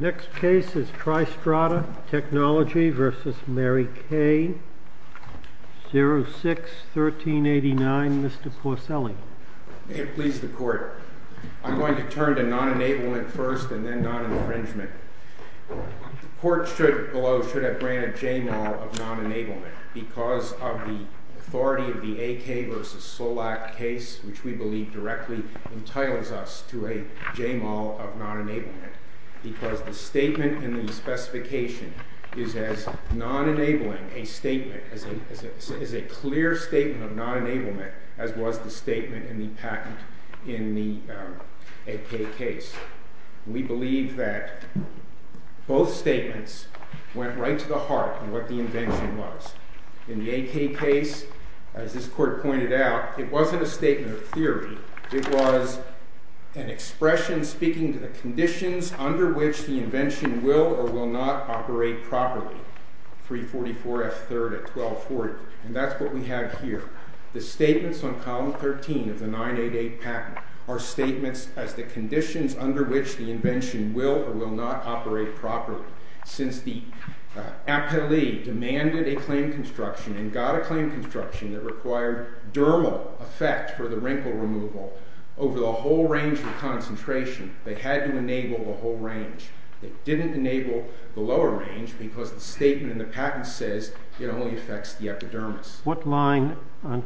Next case is Tristrata Technology v. Mary Kay, 06-13-2012. Tristrata Technology v. Mary Kay, 06-13-2012. Tristrata Technology v. Mary Kay, 06-13-2012. Tristrata Technology v. Mary Kay, 06-13-2012.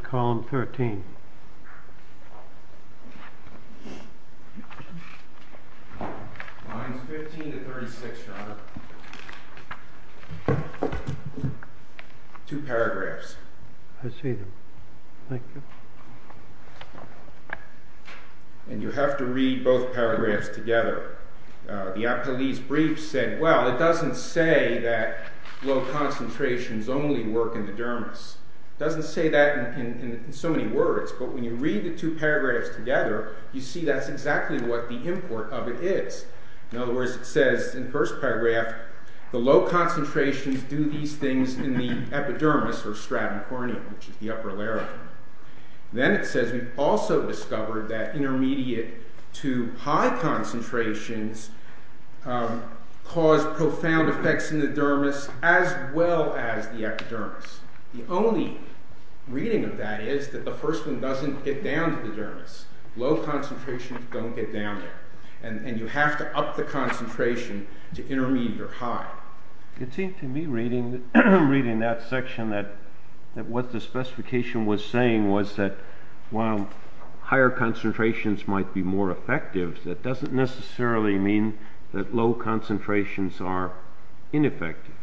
Column 13. Lines 15-36, Your Honor. Two paragraphs. I see them. Thank you. And you have to read both paragraphs together. The Appellee's brief said, well, it doesn't say that low concentrations only work in the dermis. It doesn't say that in so many words, but when you read the two paragraphs together, you see that's exactly what the import of it is. In other words, it says in the first paragraph, the low concentrations do these things in the epidermis, or stratum corneum, which is the upper larynx. Then it says we've also discovered that intermediate to high concentrations cause profound effects in the dermis as well as the epidermis. The only reading of that is that the first one doesn't get down to the dermis. Low concentrations don't get down there. And you have to up the concentration to intermediate or high. It seemed to me reading that section that what the specification was saying was that while higher concentrations might be more effective, that doesn't necessarily mean that low concentrations are ineffective.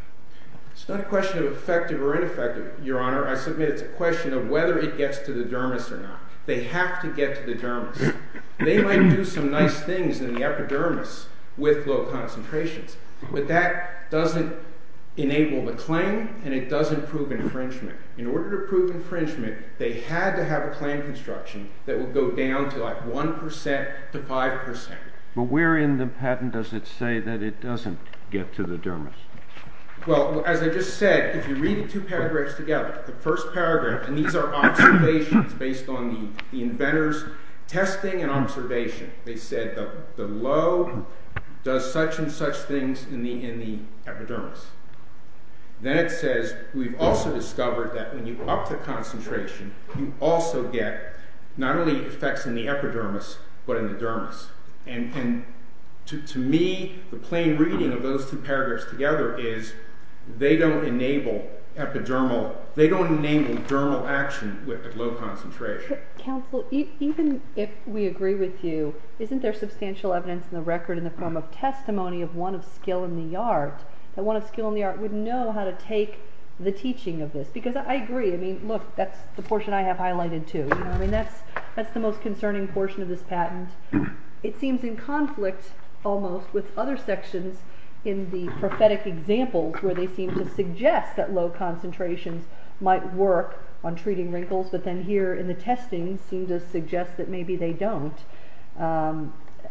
It's not a question of effective or ineffective, Your Honor. I submit it's a question of whether it gets to the dermis or not. They have to get to the dermis. They might do some nice things in the epidermis with low concentrations, but that doesn't enable the claim and it doesn't prove infringement. In order to prove infringement, they had to have a claim construction that would go down to like 1% to 5%. But where in the patent does it say that it doesn't get to the dermis? Well, as I just said, if you read the two paragraphs together, the first paragraph, and these are observations based on the inventor's testing and observation, they said the low does such and such things in the epidermis. Then it says we've also discovered that when you up the concentration, you also get not only effects in the epidermis but in the dermis. To me, the plain reading of those two paragraphs together is they don't enable epidermal action with low concentration. Counsel, even if we agree with you, isn't there substantial evidence in the record in the form of testimony of one of skill in the art that one of skill in the art would know how to take the teaching of this? Because I agree. Look, that's the portion I have highlighted too. That's the most concerning portion of this patent. It seems in conflict almost with other sections in the prophetic examples where they seem to suggest that low concentrations might work on treating wrinkles, but then here in the testing seem to suggest that maybe they don't.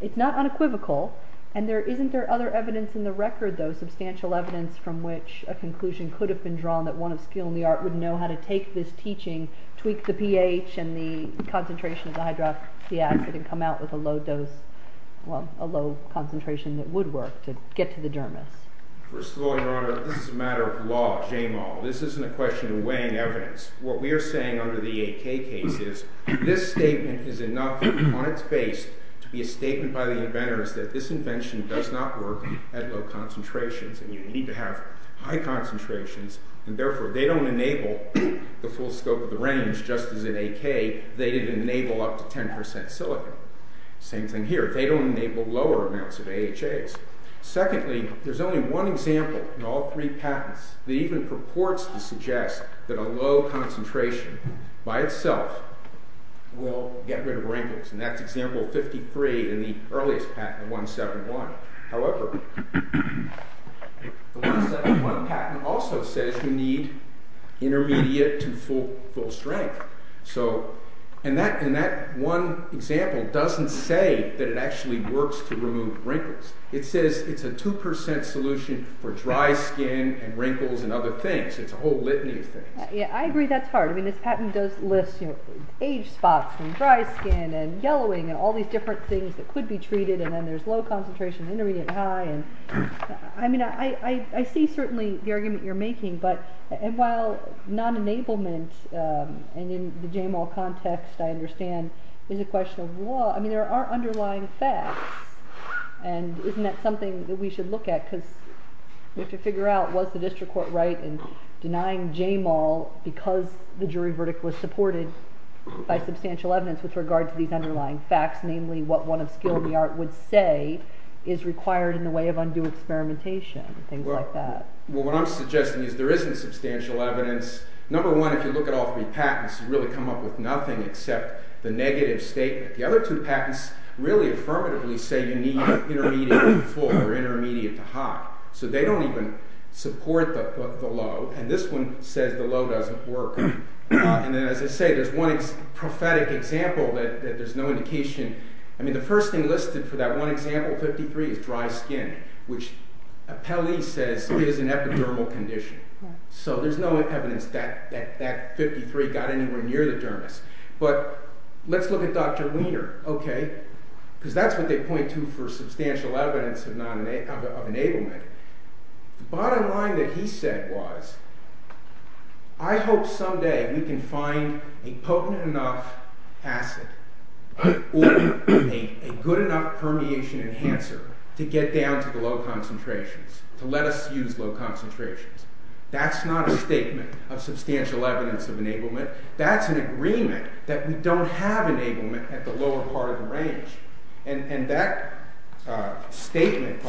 It's not unequivocal. And isn't there other evidence in the record, though, substantial evidence from which a conclusion could have been drawn that one of skill in the art would know how to take this teaching, tweak the pH and the concentration of the hydroxy acid and come out with a low concentration that would work to get to the dermis? First of all, Your Honor, this is a matter of law. This isn't a question of weighing evidence. What we are saying under the AK case is this statement is enough on its face to be a statement by the inventors that this invention does not work at low concentrations and you need to have high concentrations. And therefore they don't enable the full scope of the range just as in AK. They didn't enable up to 10% silicon. Same thing here. They don't enable lower amounts of AHAs. Secondly, there's only one example in all three patents that even purports to suggest that a low concentration by itself will get rid of wrinkles, and that's example 53 in the earliest patent, 171. However, the 171 patent also says you need intermediate to full strength. And that one example doesn't say that it actually works to remove wrinkles. It says it's a 2% solution for dry skin and wrinkles and other things. It's a whole litany of things. I agree that's hard. This patent does list age spots and dry skin and yellowing and all these different things that could be treated and then there's low concentration, intermediate, high. I mean, I see certainly the argument you're making, but while non-enablement and in the JAMAL context, I understand, is a question of law. I mean, there are underlying facts, and isn't that something that we should look at because we have to figure out was the district court right in denying JAMAL because the jury verdict was supported by substantial evidence with regard to these underlying facts, namely what one of skill in the art would say is required in the way of undue experimentation, things like that. Well, what I'm suggesting is there isn't substantial evidence. Number one, if you look at all three patents, you really come up with nothing except the negative statement. The other two patents really affirmatively say you need intermediate to full or intermediate to high. So they don't even support the low, and this one says the low doesn't work. And then as I say, there's one prophetic example that there's no indication. I mean, the first thing listed for that one example, 53, is dry skin, which Pelley says is an epidermal condition. So there's no evidence that 53 got anywhere near the dermis. But let's look at Dr. Wiener, okay, because that's what they point to for substantial evidence of enablement. The bottom line that he said was, I hope someday we can find a potent enough acid or a good enough permeation enhancer to get down to the low concentrations, to let us use low concentrations. That's not a statement of substantial evidence of enablement. That's an agreement that we don't have enablement at the lower part of the range. And that statement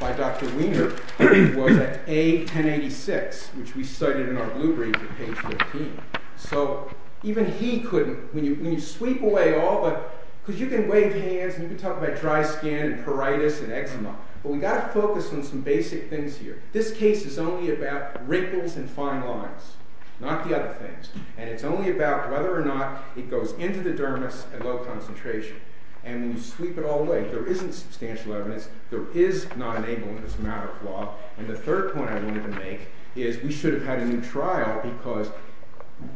by Dr. Wiener was at A1086, which we cited in our blueprint at page 13. So even he couldn't, when you sweep away all the, because you can wave hands, and you can talk about dry skin and pruritus and eczema, but we've got to focus on some basic things here. This case is only about wrinkles and fine lines, not the other things. And it's only about whether or not it goes into the dermis at low concentration. And when you sweep it all away, there isn't substantial evidence. There is non-enablement as a matter of law. And the third point I wanted to make is we should have had a new trial, because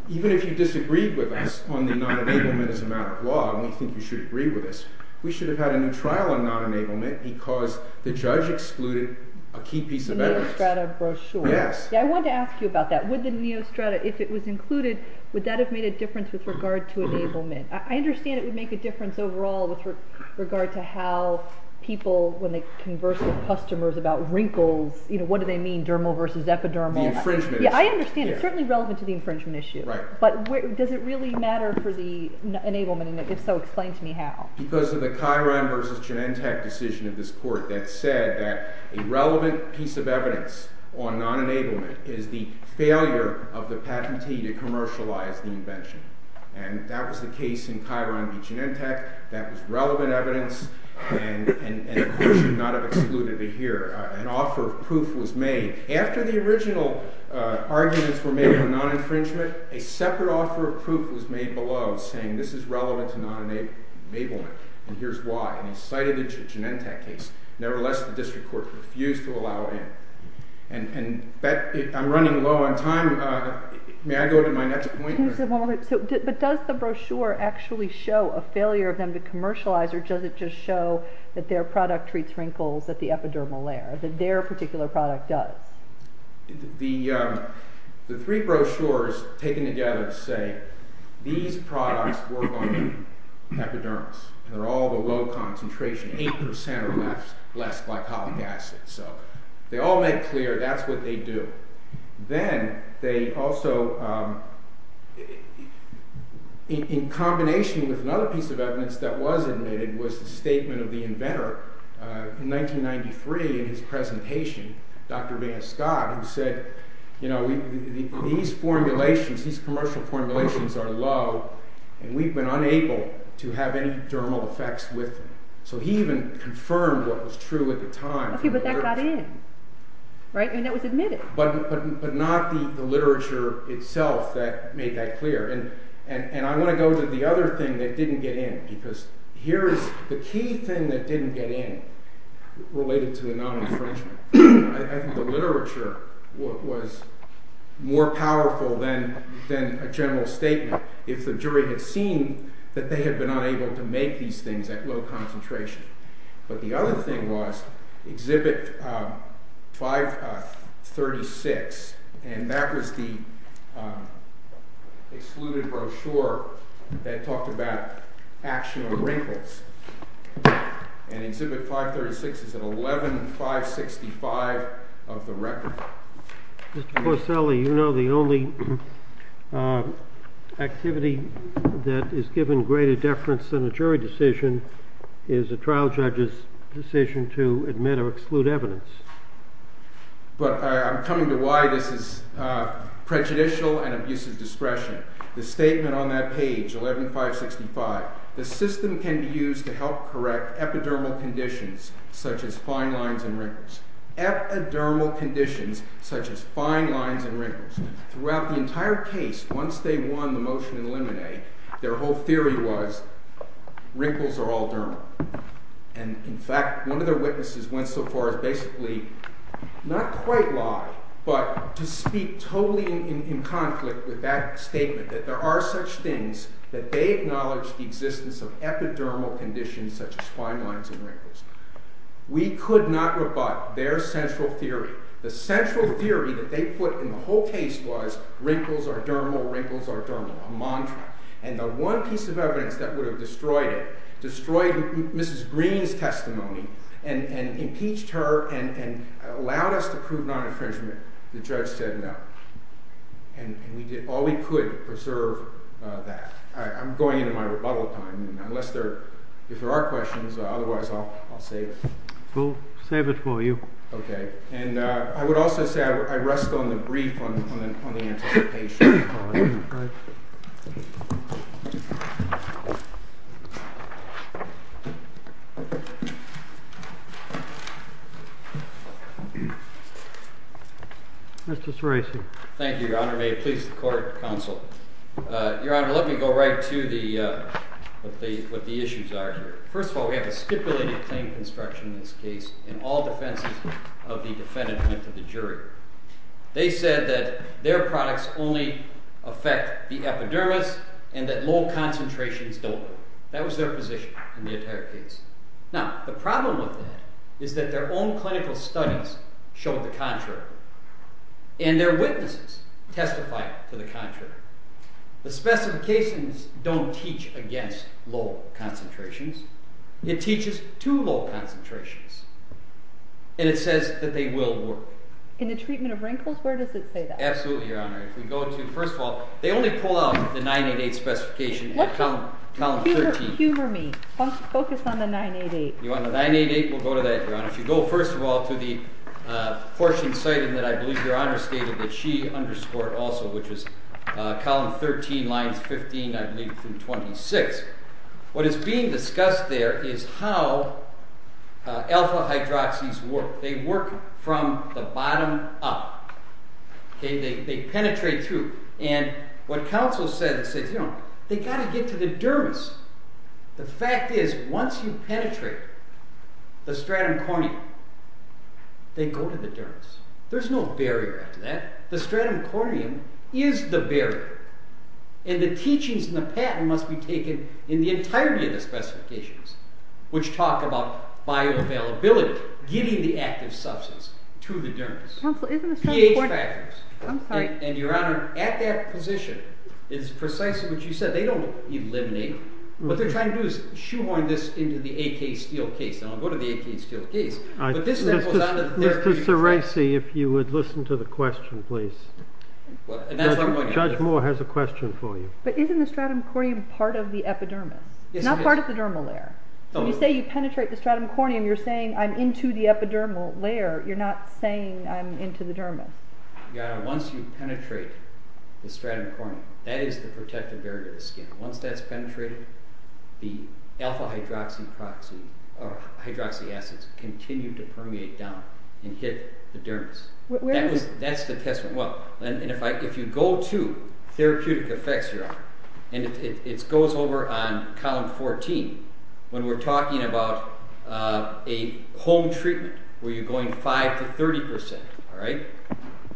even if you disagreed with us on the non-enablement as a matter of law, and we think you should agree with us, we should have had a new trial on non-enablement, because the judge excluded a key piece of evidence. The Neostrata brochure. Yes. Yeah, I wanted to ask you about that. Would the Neostrata, if it was included, would that have made a difference with regard to enablement? I understand it would make a difference overall with regard to how people, when they converse with customers about wrinkles, you know, what do they mean, dermal versus epidermal? The infringement issue. Yeah, I understand. It's certainly relevant to the infringement issue. Right. But does it really matter for the enablement? And if so, explain to me how. Because of the Chiron v. Genentech decision of this court that said that a relevant piece of evidence on non-enablement is the failure of the patentee to commercialize the invention. And that was the case in Chiron v. Genentech. That was relevant evidence, and the court should not have excluded it here. An offer of proof was made. After the original arguments were made for non-infringement, a separate offer of proof was made below saying this is relevant to non-enablement, and here's why. And he cited it to Genentech case. Nevertheless, the district court refused to allow it in. And I'm running low on time. May I go to my next point? But does the brochure actually show a failure of them to commercialize, or does it just show that their product treats wrinkles at the epidermal layer, that their particular product does? The three brochures taken together say these products work on the epidermis, and they're all below concentration, 8% or less glycolic acid. So they all make clear that's what they do. Then they also, in combination with another piece of evidence that was admitted, was the statement of the inventor in 1993 in his presentation, Dr. Van Scott, who said, you know, these formulations, these commercial formulations are low, and we've been unable to have any dermal effects with them. So he even confirmed what was true at the time. Okay, but that got in, right? I mean, that was admitted. But not the literature itself that made that clear. And I want to go to the other thing that didn't get in, because here is the key thing that didn't get in related to the non-infringement. I think the literature was more powerful than a general statement if the jury had seen that they had been unable to make these things at low concentration. But the other thing was Exhibit 536, and that was the excluded brochure that talked about action of wrinkles. And Exhibit 536 is an 11-565 of the record. Mr. Porcelli, you know the only activity that is given greater deference than a jury decision is a trial judge's decision to admit or exclude evidence. But I'm coming to why this is prejudicial and abuse of discretion. The statement on that page, 11-565, the system can be used to help correct epidermal conditions such as fine lines and wrinkles. Epidermal conditions such as fine lines and wrinkles. Throughout the entire case, once they won the motion in Limine, their whole theory was, wrinkles are all dermal. And in fact, one of their witnesses went so far as basically, not quite lie, but to speak totally in conflict with that statement, that there are such things that they acknowledge the existence of epidermal conditions such as fine lines and wrinkles. We could not rebut their central theory. The central theory that they put in the whole case was, wrinkles are dermal, wrinkles are dermal, a mantra. And the one piece of evidence that would have destroyed it, destroyed Mrs. Green's testimony, and impeached her, and allowed us to prove non-infringement, the judge said no. And we did all we could to preserve that. I'm going into my rebuttal time. Unless there are questions, otherwise I'll save it. We'll save it for you. OK. And I would also say, I rest on the brief on the anticipation. Mr. Tresi. Thank you, Your Honor. May it please the court, counsel. Your Honor, let me go right to what the issues are here. First of all, we have a stipulated claim construction in this case. And all defenses of the defendant went to the jury. They said that their products only affect the epidermis, and that low concentrations don't. That was their position in the entire case. Now, the problem with that is that their own clinical studies showed the contrary. And their witnesses testified to the contrary. The specifications don't teach against low concentrations. It teaches to low concentrations. And it says that they will work. In the treatment of wrinkles? Where does it say that? Absolutely, Your Honor. If we go to, first of all, they only pull out the 988 specification in column 13. Humor me. Focus on the 988. You want the 988? We'll go to that, Your Honor. If you go, first of all, to the portion citing that I believe Your Honor stated that she underscored also, which is column 13, lines 15, I believe, through 26. What is being discussed there is how alpha-hydroxys work. They work from the bottom up. They penetrate through. And what counsel said is they've got to get to the dermis. The fact is, once you penetrate the stratum corneum, they go to the dermis. There's no barrier after that. The stratum corneum is the barrier. And the teachings and the pattern must be taken in the entirety of the specifications, which talk about bioavailability, giving the active substance to the dermis. Counsel, isn't the stratum corneum? I'm sorry. And, Your Honor, at that position, it's precisely what you said. They don't eliminate. What they're trying to do is shoehorn this into the AK Steele case. And I'll go to the AK Steele case. But this goes on to the therapeutic side. Mr. Ceresi, if you would listen to the question, please. Judge Moore has a question for you. But isn't the stratum corneum part of the epidermis? It's not part of the dermal layer. When you say you penetrate the stratum corneum, you're saying I'm into the epidermal layer. You're not saying I'm into the dermis. Your Honor, once you penetrate the stratum corneum, that is the protective barrier to the skin. Once that's penetrated, the alpha-hydroxy acids continue to permeate down and hit the dermis. Where is it? That's the test. And if you go to therapeutic effects, Your Honor, and it goes over on column 14, when we're talking about a home treatment where you're going 5% to 30%, all right?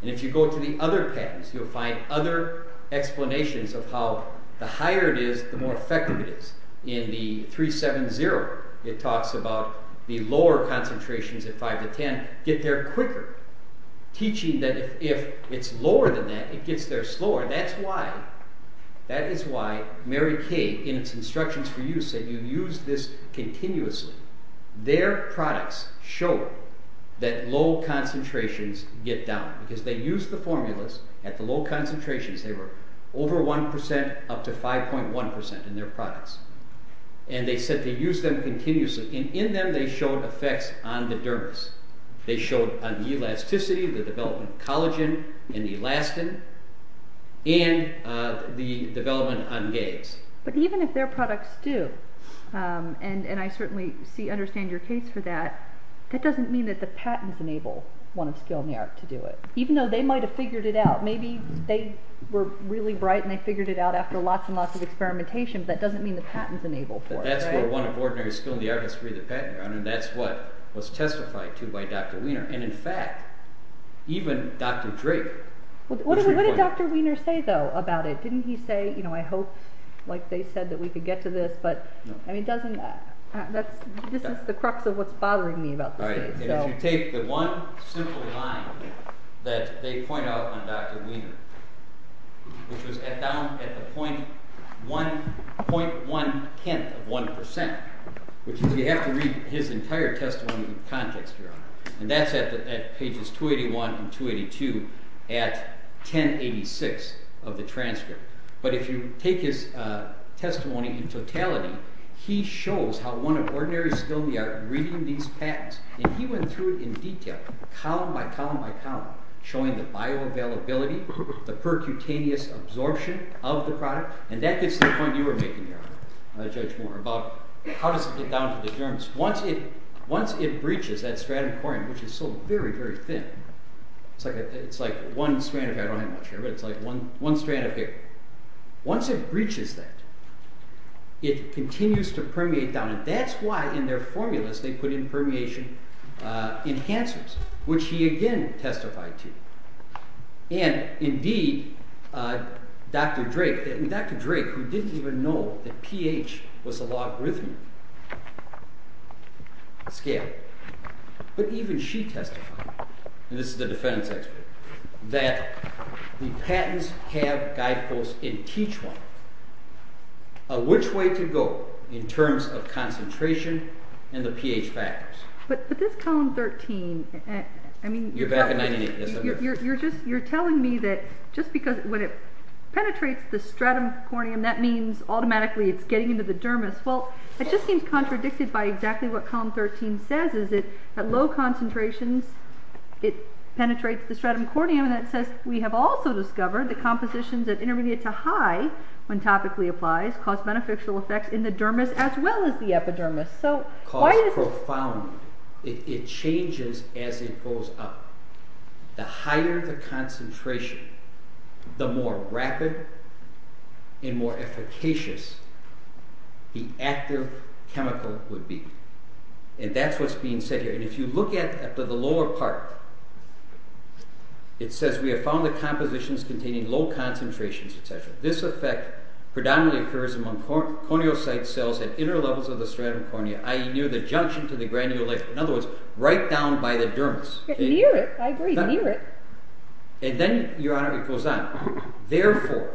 And if you go to the other patterns, you'll find other explanations of how the higher it is, the more effective it is. In the 3.7.0, it talks about the lower concentrations at 5 to 10 get there quicker, teaching that if it's lower than that, it gets there slower. That is why Mary Kay, in its instructions for use, said you use this continuously. Their products show that low concentrations get down because they used the formulas at the low concentrations. They were over 1% up to 5.1% in their products. And they said they used them continuously. And in them, they showed effects on the dermis. They showed on elasticity, the development of collagen and elastin, and the development on gays. But even if their products do, and I certainly understand your case for that, that doesn't mean that the patents enable one of Skill in the Art to do it. Even though they might have figured it out. Maybe they were really bright and they figured it out after lots and lots of experimentation, but that doesn't mean the patents enable for it. That's where one of Ordinary Skill in the Art has freed the patent around, and that's what was testified to by Dr. Wiener. And in fact, even Dr. Drake... What did Dr. Wiener say, though, about it? Didn't he say, you know, I hope, like they said, that we could get to this? I mean, this is the crux of what's bothering me about this case. If you take the one simple line that they point out on Dr. Wiener, which was down at the 0.1 tenth of 1%, which is, you have to read his entire testimony in context, and that's at pages 281 and 282, at 1086 of the transcript. But if you take his testimony in totality, he shows how one of Ordinary Skill in the Art reading these patents, and he went through it in detail, column by column by column, showing the bioavailability, the percutaneous absorption of the product, and that gets to the point you were making, Your Honor, Judge Moore, about how does it get down to the germs. Once it breaches that stratum corneum, which is so very, very thin, it's like one strand of hair. I don't have much hair, but it's like one strand of hair. Once it breaches that, it continues to permeate down, and that's why, in their formulas, they put in permeation enhancers, which he again testified to. And indeed, Dr. Drake, who didn't even know that pH was a logarithmic scale, but even she testified, and this is the defense expert, that the patents have guideposts and teach one which way to go in terms of concentration and the pH factors. But this column 13, I mean... You're back in 1998. You're telling me that just because, when it penetrates the stratum corneum, that means automatically it's getting into the dermis. Well, it just seems contradicted by exactly what column 13 says, is that at low concentrations, it penetrates the stratum corneum, and that says we have also discovered that compositions at intermediate to high, when topically applied, cause beneficial effects in the dermis as well as the epidermis. Cause profoundly. It changes as it goes up. The higher the concentration, the more rapid and more efficacious the active chemical would be. And that's what's being said here. And if you look at the lower part, it says we have found that compositions containing low concentrations, etc., this effect predominantly occurs among corneal site cells at inner levels of the stratum corneum, i.e. near the junction to the granulate, in other words, right down by the dermis. Near it. I agree, near it. And then, Your Honor, it goes on. Therefore,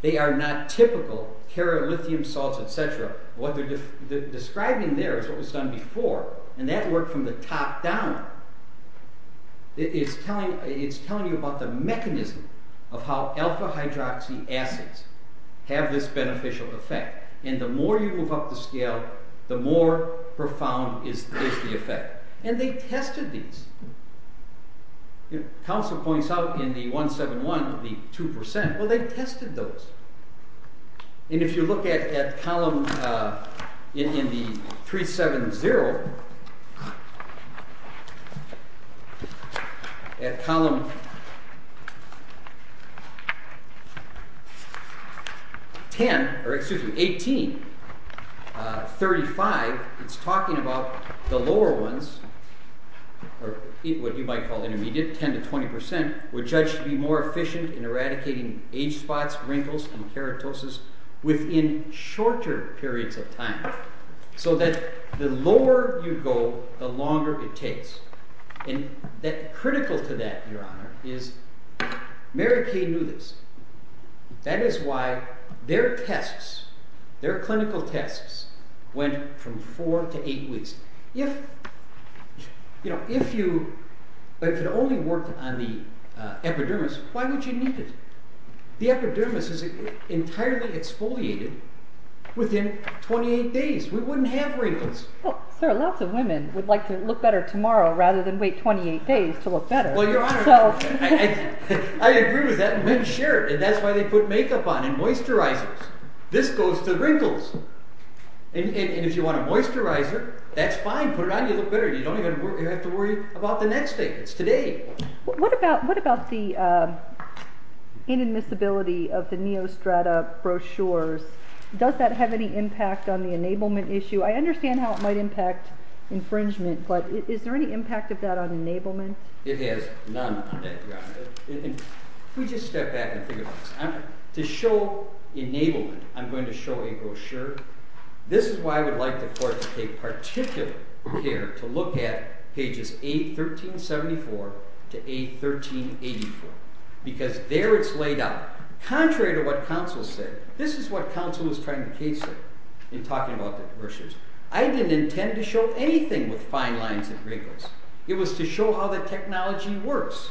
they are not typical kerolithium salts, etc. What they're describing there is what was done before, and that worked from the top down. It's telling you about the mechanism of how alpha hydroxy acids have this beneficial effect. And the more you move up the scale, the more profound is the effect. And they tested these. Counsel points out in the 171, the 2%, well, they tested those. And if you look at column, in the 370, at column 10, or excuse me, 18, 35, it's talking about the lower ones, or what you might call intermediate, 10 to 20%, were judged to be more efficient in eradicating age spots, wrinkles, and keratosis within shorter periods of time. So that the lower you go, the longer it takes. And critical to that, Your Honor, is Mary Kay knew this. That is why their tests, their clinical tests, went from 4 to 8 weeks. If it only worked on the epidermis, why would you need it? The epidermis is entirely exfoliated within 28 days. We wouldn't have wrinkles. Well, sir, lots of women would like to look better tomorrow rather than wait 28 days to look better. Well, Your Honor, I agree with that. Men share it, and that's why they put makeup on and moisturizers. This goes to wrinkles. And if you want a moisturizer, that's fine, put it on, you'll look better. You don't even have to worry about the next day. It's today. What about the inadmissibility of the Neostrata brochures? Does that have any impact on the enablement issue? I understand how it might impact infringement, but is there any impact of that on enablement? It has none on that, Your Honor. If we just step back and think about this. To show enablement, I'm going to show a brochure. This is why I would like the court to take particular care to look at pages A1374 to A1384, because there it's laid out. Contrary to what counsel said, this is what counsel was trying to case her in talking about the brochures. I didn't intend to show anything with fine lines and wrinkles. It was to show how the technology works.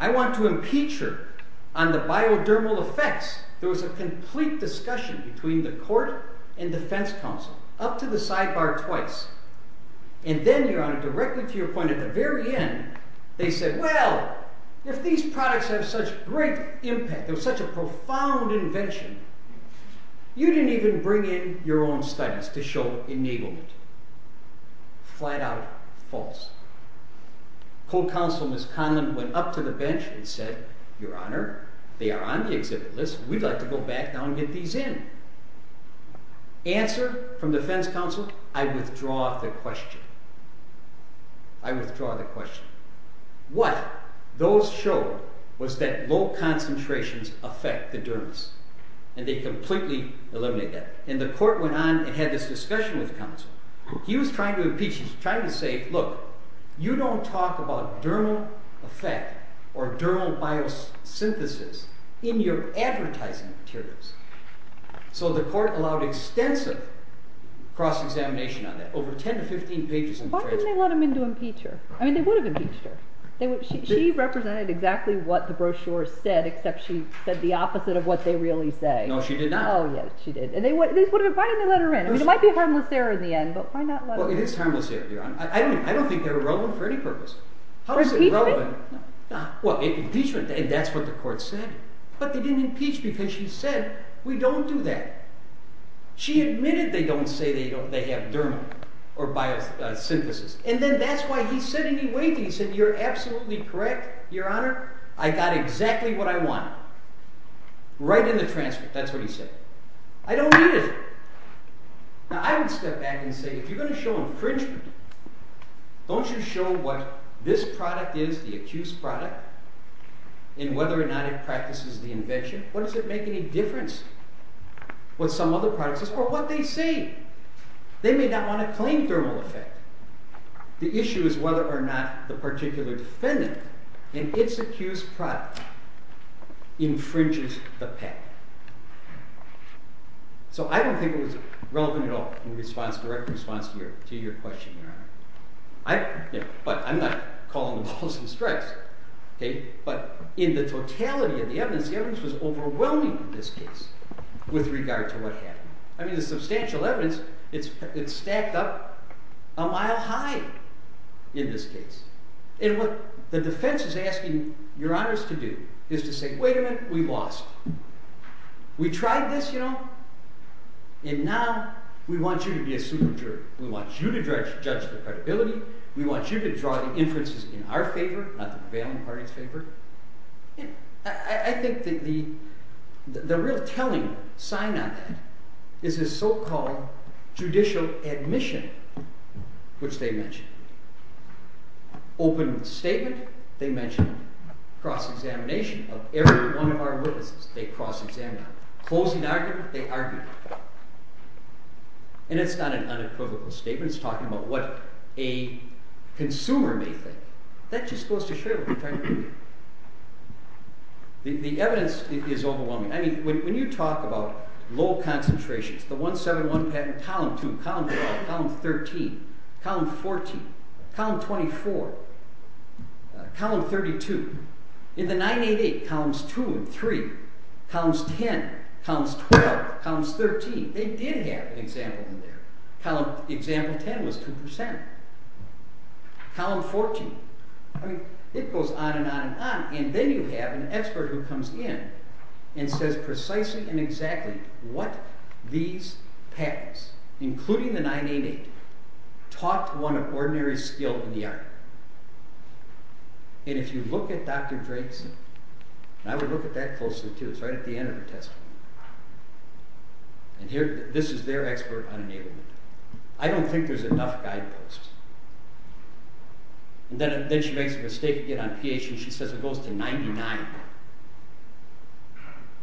I want to impeach her on the biodermal effects. There was a complete discussion between the court and defense counsel, up to the sidebar twice. And then, Your Honor, directly to your point, at the very end, they said, well, if these products have such great impact, they're such a profound invention, you didn't even bring in your own studies to show enablement. Flat out false. Court counsel, Ms. Conlon, went up to the bench and said, Your Honor, they are on the exhibit list. We'd like to go back now and get these in. Answer from defense counsel, I withdraw the question. I withdraw the question. What those showed was that low concentrations affect the dermis. And they completely eliminated that. And the court went on and had this discussion with counsel. He was trying to impeach. He was trying to say, look, you don't talk about dermal effect or dermal biosynthesis in your advertising materials. So the court allowed extensive cross-examination on that, over 10 to 15 pages in the trailer. Why didn't they let him in to impeach her? I mean, they would have impeached her. She represented exactly what the brochure said, except she said the opposite of what they really say. No, she did not. Oh, yes, she did. Why didn't they let her in? I mean, it might be a harmless error in the end, but why not let her in? Well, it is harmless error, Your Honor. I don't think they were relevant for any purpose. How is it relevant? Impeachment? Impeachment, and that's what the court said. But they didn't impeach because she said, we don't do that. She admitted they don't say they have dermal or biosynthesis. And then that's why he said, and he weighed it. He said, you're absolutely correct, Your Honor. I got exactly what I wanted, right in the transcript. That's what he said. I don't need it. Now, I would step back and say, if you're going to show infringement, don't you show what this product is, the accused product, and whether or not it practices the invention. What does it make any difference what some other product says or what they say? They may not want to claim dermal effect. The issue is whether or not the particular defendant and its accused product infringes the patent. So I don't think it was relevant at all in direct response to your question, Your Honor. But I'm not calling the balls and strikes. But in the totality of the evidence, the evidence was overwhelming in this case with regard to what happened. I mean, the substantial evidence, it's stacked up a mile high in this case. And what the defense is asking Your Honors to do is to say, wait a minute. We lost. We tried this. And now we want you to be a super jury. We want you to judge the credibility. We want you to draw the inferences in our favor, not the prevailing party's favor. I think that the real telling sign on that is his so-called judicial admission, which they mentioned. Open statement, they mentioned cross-examination of every one of our witnesses. They cross-examined. Closing argument, they argued. And it's not an unequivocal statement. It's talking about what a consumer may think. That just goes to show what we're trying to do here. The evidence is overwhelming. I mean, when you talk about low concentrations, the 171 patent, column 2, column 3, column 13, column 14, column 24, column 32. In the 988, columns 2 and 3, columns 10, columns 12, columns 13, they did have an example in there. Example 10 was 2%. Column 14, I mean, it goes on and on and on. And then you have an expert who comes in and says precisely and exactly what these patents, including the 988, taught one of ordinary skill in the art. And if you look at Dr. Drake's, and I would look at that closely too. It's right at the end of her testimony. And this is their expert on enablement. I don't think there's enough guideposts. And then she makes a mistake again on pH, and she says it goes to 99.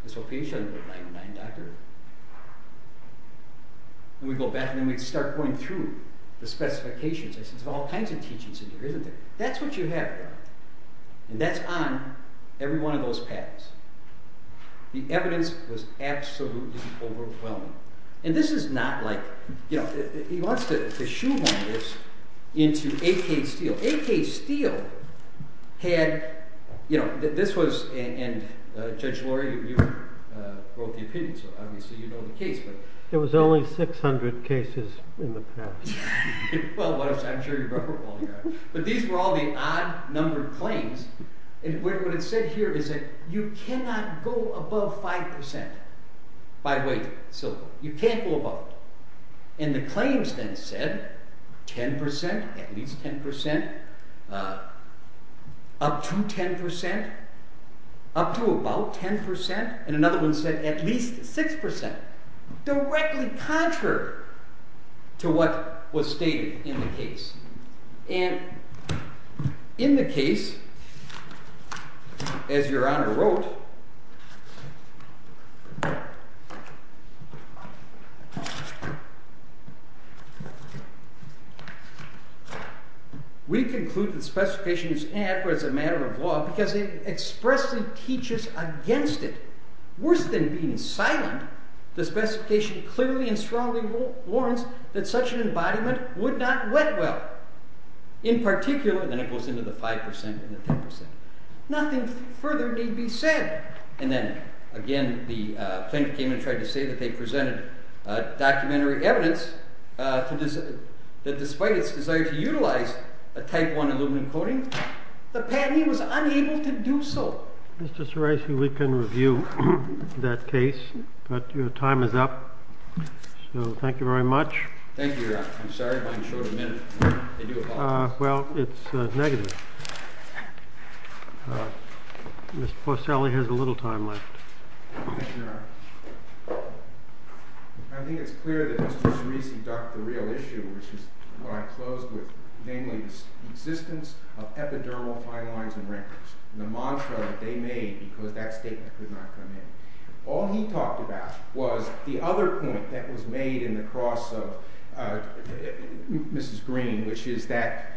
And so pH doesn't go to 99, doctor. And we go back, and then we start going through the specifications. I said, there's all kinds of teachings in there, isn't there? That's what you have there. And that's on every one of those patents. The evidence was absolutely overwhelming. And this is not like, he wants to shoehorn this into A.K. Steele. A.K. Steele had, you know, this was, and Judge Lurie, you wrote the opinion, so obviously you know the case. There was only 600 cases in the past. Well, I'm sure you remember all the others. But these were all the odd-numbered claims. And what it said here is that you cannot go above 5% by weight, so you can't go above it. And the claims then said 10%, at least 10%, up to 10%, up to about 10%, and another one said at least 6%, directly contrary to what was stated in the case. And in the case, as Your Honor wrote, we conclude the specification is inadequate as a matter of law because it expressly teaches against it. Worse than being silent, the specification clearly and strongly warns that such an embodiment would not wet well. In particular, and then it goes into the 5% and the 10%. Nothing further need be said. And then, again, the plaintiff came in and tried to say that they presented documentary evidence that despite its desire to utilize a Type I aluminum coating, the patent, he was unable to do so. Mr. Soraisi, we can review that case, but your time is up. So thank you very much. Thank you, Your Honor. I'm sorry if I'm short a minute. Well, it's negative. Mr. Forcelli has a little time left. Thank you, Your Honor. I think it's clear that Mr. Soraisi ducked the real issue, which is what I closed with, namely the existence of epidermal fine lines and records and the mantra that they made because that statement could not come in. All he talked about was the other point that was made in the cross of Mrs. Green, which is that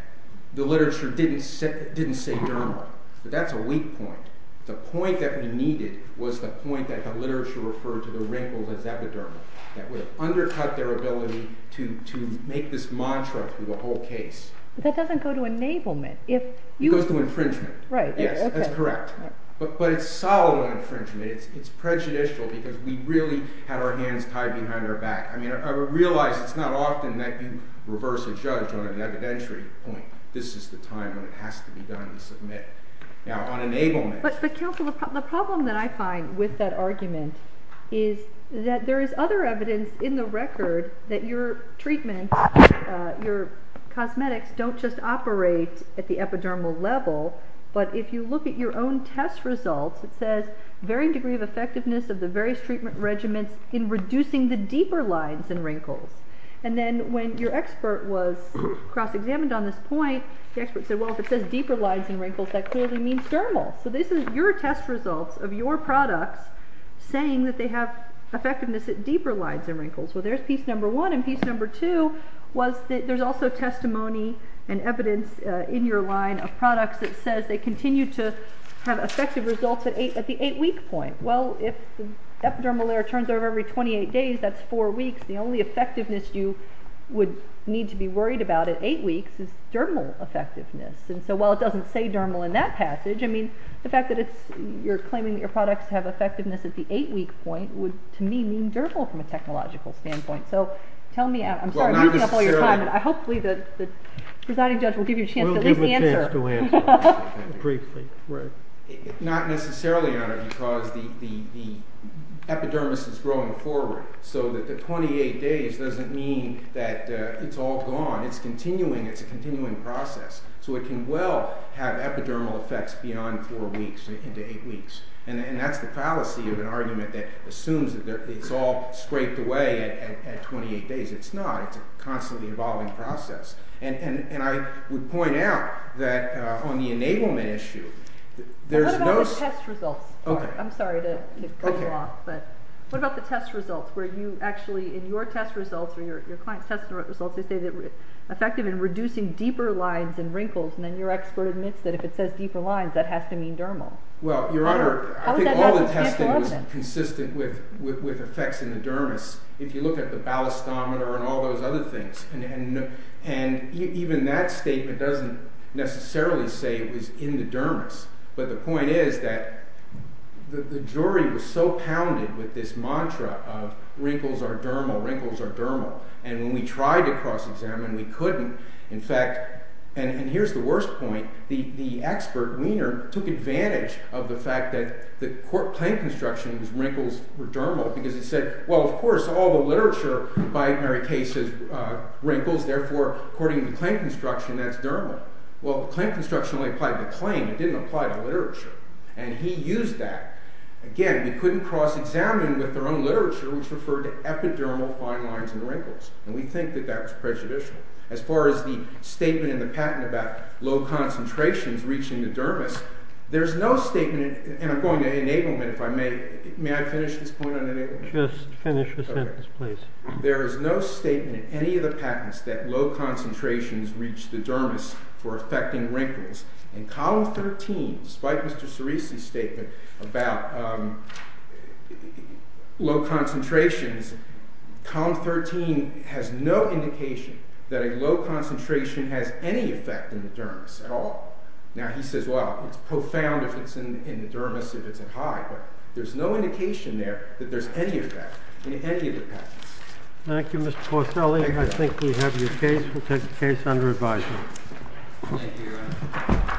the literature didn't say dermal. But that's a weak point. The point that we needed was the point that the literature referred to the wrinkles as epidermal that would have undercut their ability to make this mantra through the whole case. But that doesn't go to enablement. It goes to infringement. Right. Yes, that's correct. But it's solemn infringement. It's prejudicial because we really had our hands tied behind our back. I realize it's not often that you reverse a judge on an evidentiary point. This is the time when it has to be done to submit. Now, on enablement. But counsel, the problem that I find with that argument is that there is other evidence in the record that your treatment, your cosmetics, don't just operate at the epidermal level, but if you look at your own test results, it says varying degree of effectiveness of the various treatment regimens in reducing the deeper lines and wrinkles. And then when your expert was cross-examined on this point, the expert said, well, if it says deeper lines and wrinkles, that clearly means dermal. So this is your test results of your products saying that they have effectiveness at deeper lines and wrinkles. Well, there's piece number one. And piece number two was that there's also testimony and evidence in your line of products that says they continue to have effective results at the eight-week point. Well, if the epidermal layer turns over every 28 days, that's four weeks. The only effectiveness you would need to be worried about at eight weeks is dermal effectiveness. And so while it doesn't say dermal in that passage, I mean, the fact that you're claiming that your products have effectiveness at the eight-week point would, to me, mean dermal from a technological standpoint. So tell me, I'm sorry, I'm knocking up all your time, but hopefully the presiding judge will give you a chance to at least answer. We'll give a chance to answer briefly. Not necessarily, Your Honor, because the epidermis is growing forward. So that the 28 days doesn't mean that it's all gone. It's continuing. It's a continuing process. So it can well have epidermal effects beyond four weeks into eight weeks. And that's the fallacy of an argument that assumes that it's all scraped away at 28 days. It's not. It's a constantly evolving process. And I would point out that on the enablement issue, there's no... What about the test results? I'm sorry to cut you off. But what about the test results where you actually, in your test results, or your client's test results, they say that it's effective in reducing deeper lines and wrinkles. And then your expert admits that if it says deeper lines, that has to mean dermal. Well, Your Honor, I think all the testing was consistent with effects in the dermis. If you look at the ballastometer and all those other things. And even that statement doesn't necessarily say it was in the dermis. But the point is that the jury was so pounded with this mantra of wrinkles are dermal, wrinkles are dermal. And when we tried to cross-examine, we couldn't. In fact, and here's the worst point, the expert, Wiener, took advantage of the fact that the claim construction was wrinkles were dermal because it said, well, of course, all the literature by Mary Case says wrinkles. Therefore, according to the claim construction, that's dermal. Well, the claim construction only applied to the claim. It didn't apply to the literature. And he used that. Again, we couldn't cross-examine with their own literature, which referred to epidermal fine lines and wrinkles. And we think that that was prejudicial. As far as the statement in the patent about low concentrations reaching the dermis, there's no statement, and I'm going to enablement, if I may. May I finish this point on enablement? Just finish the sentence, please. There is no statement in any of the patents that low concentrations reach the dermis for affecting wrinkles. In Column 13, despite Mr. Cerisi's statement about low concentrations, Column 13 has no indication that a low concentration has any effect in the dermis at all. Now, he says, well, it's profound if it's in the dermis if it's at high, but there's no indication there that there's any effect in any of the patents. Thank you, Mr. Porcelli. I think we have your case. We'll take the case under advisory. Thank you.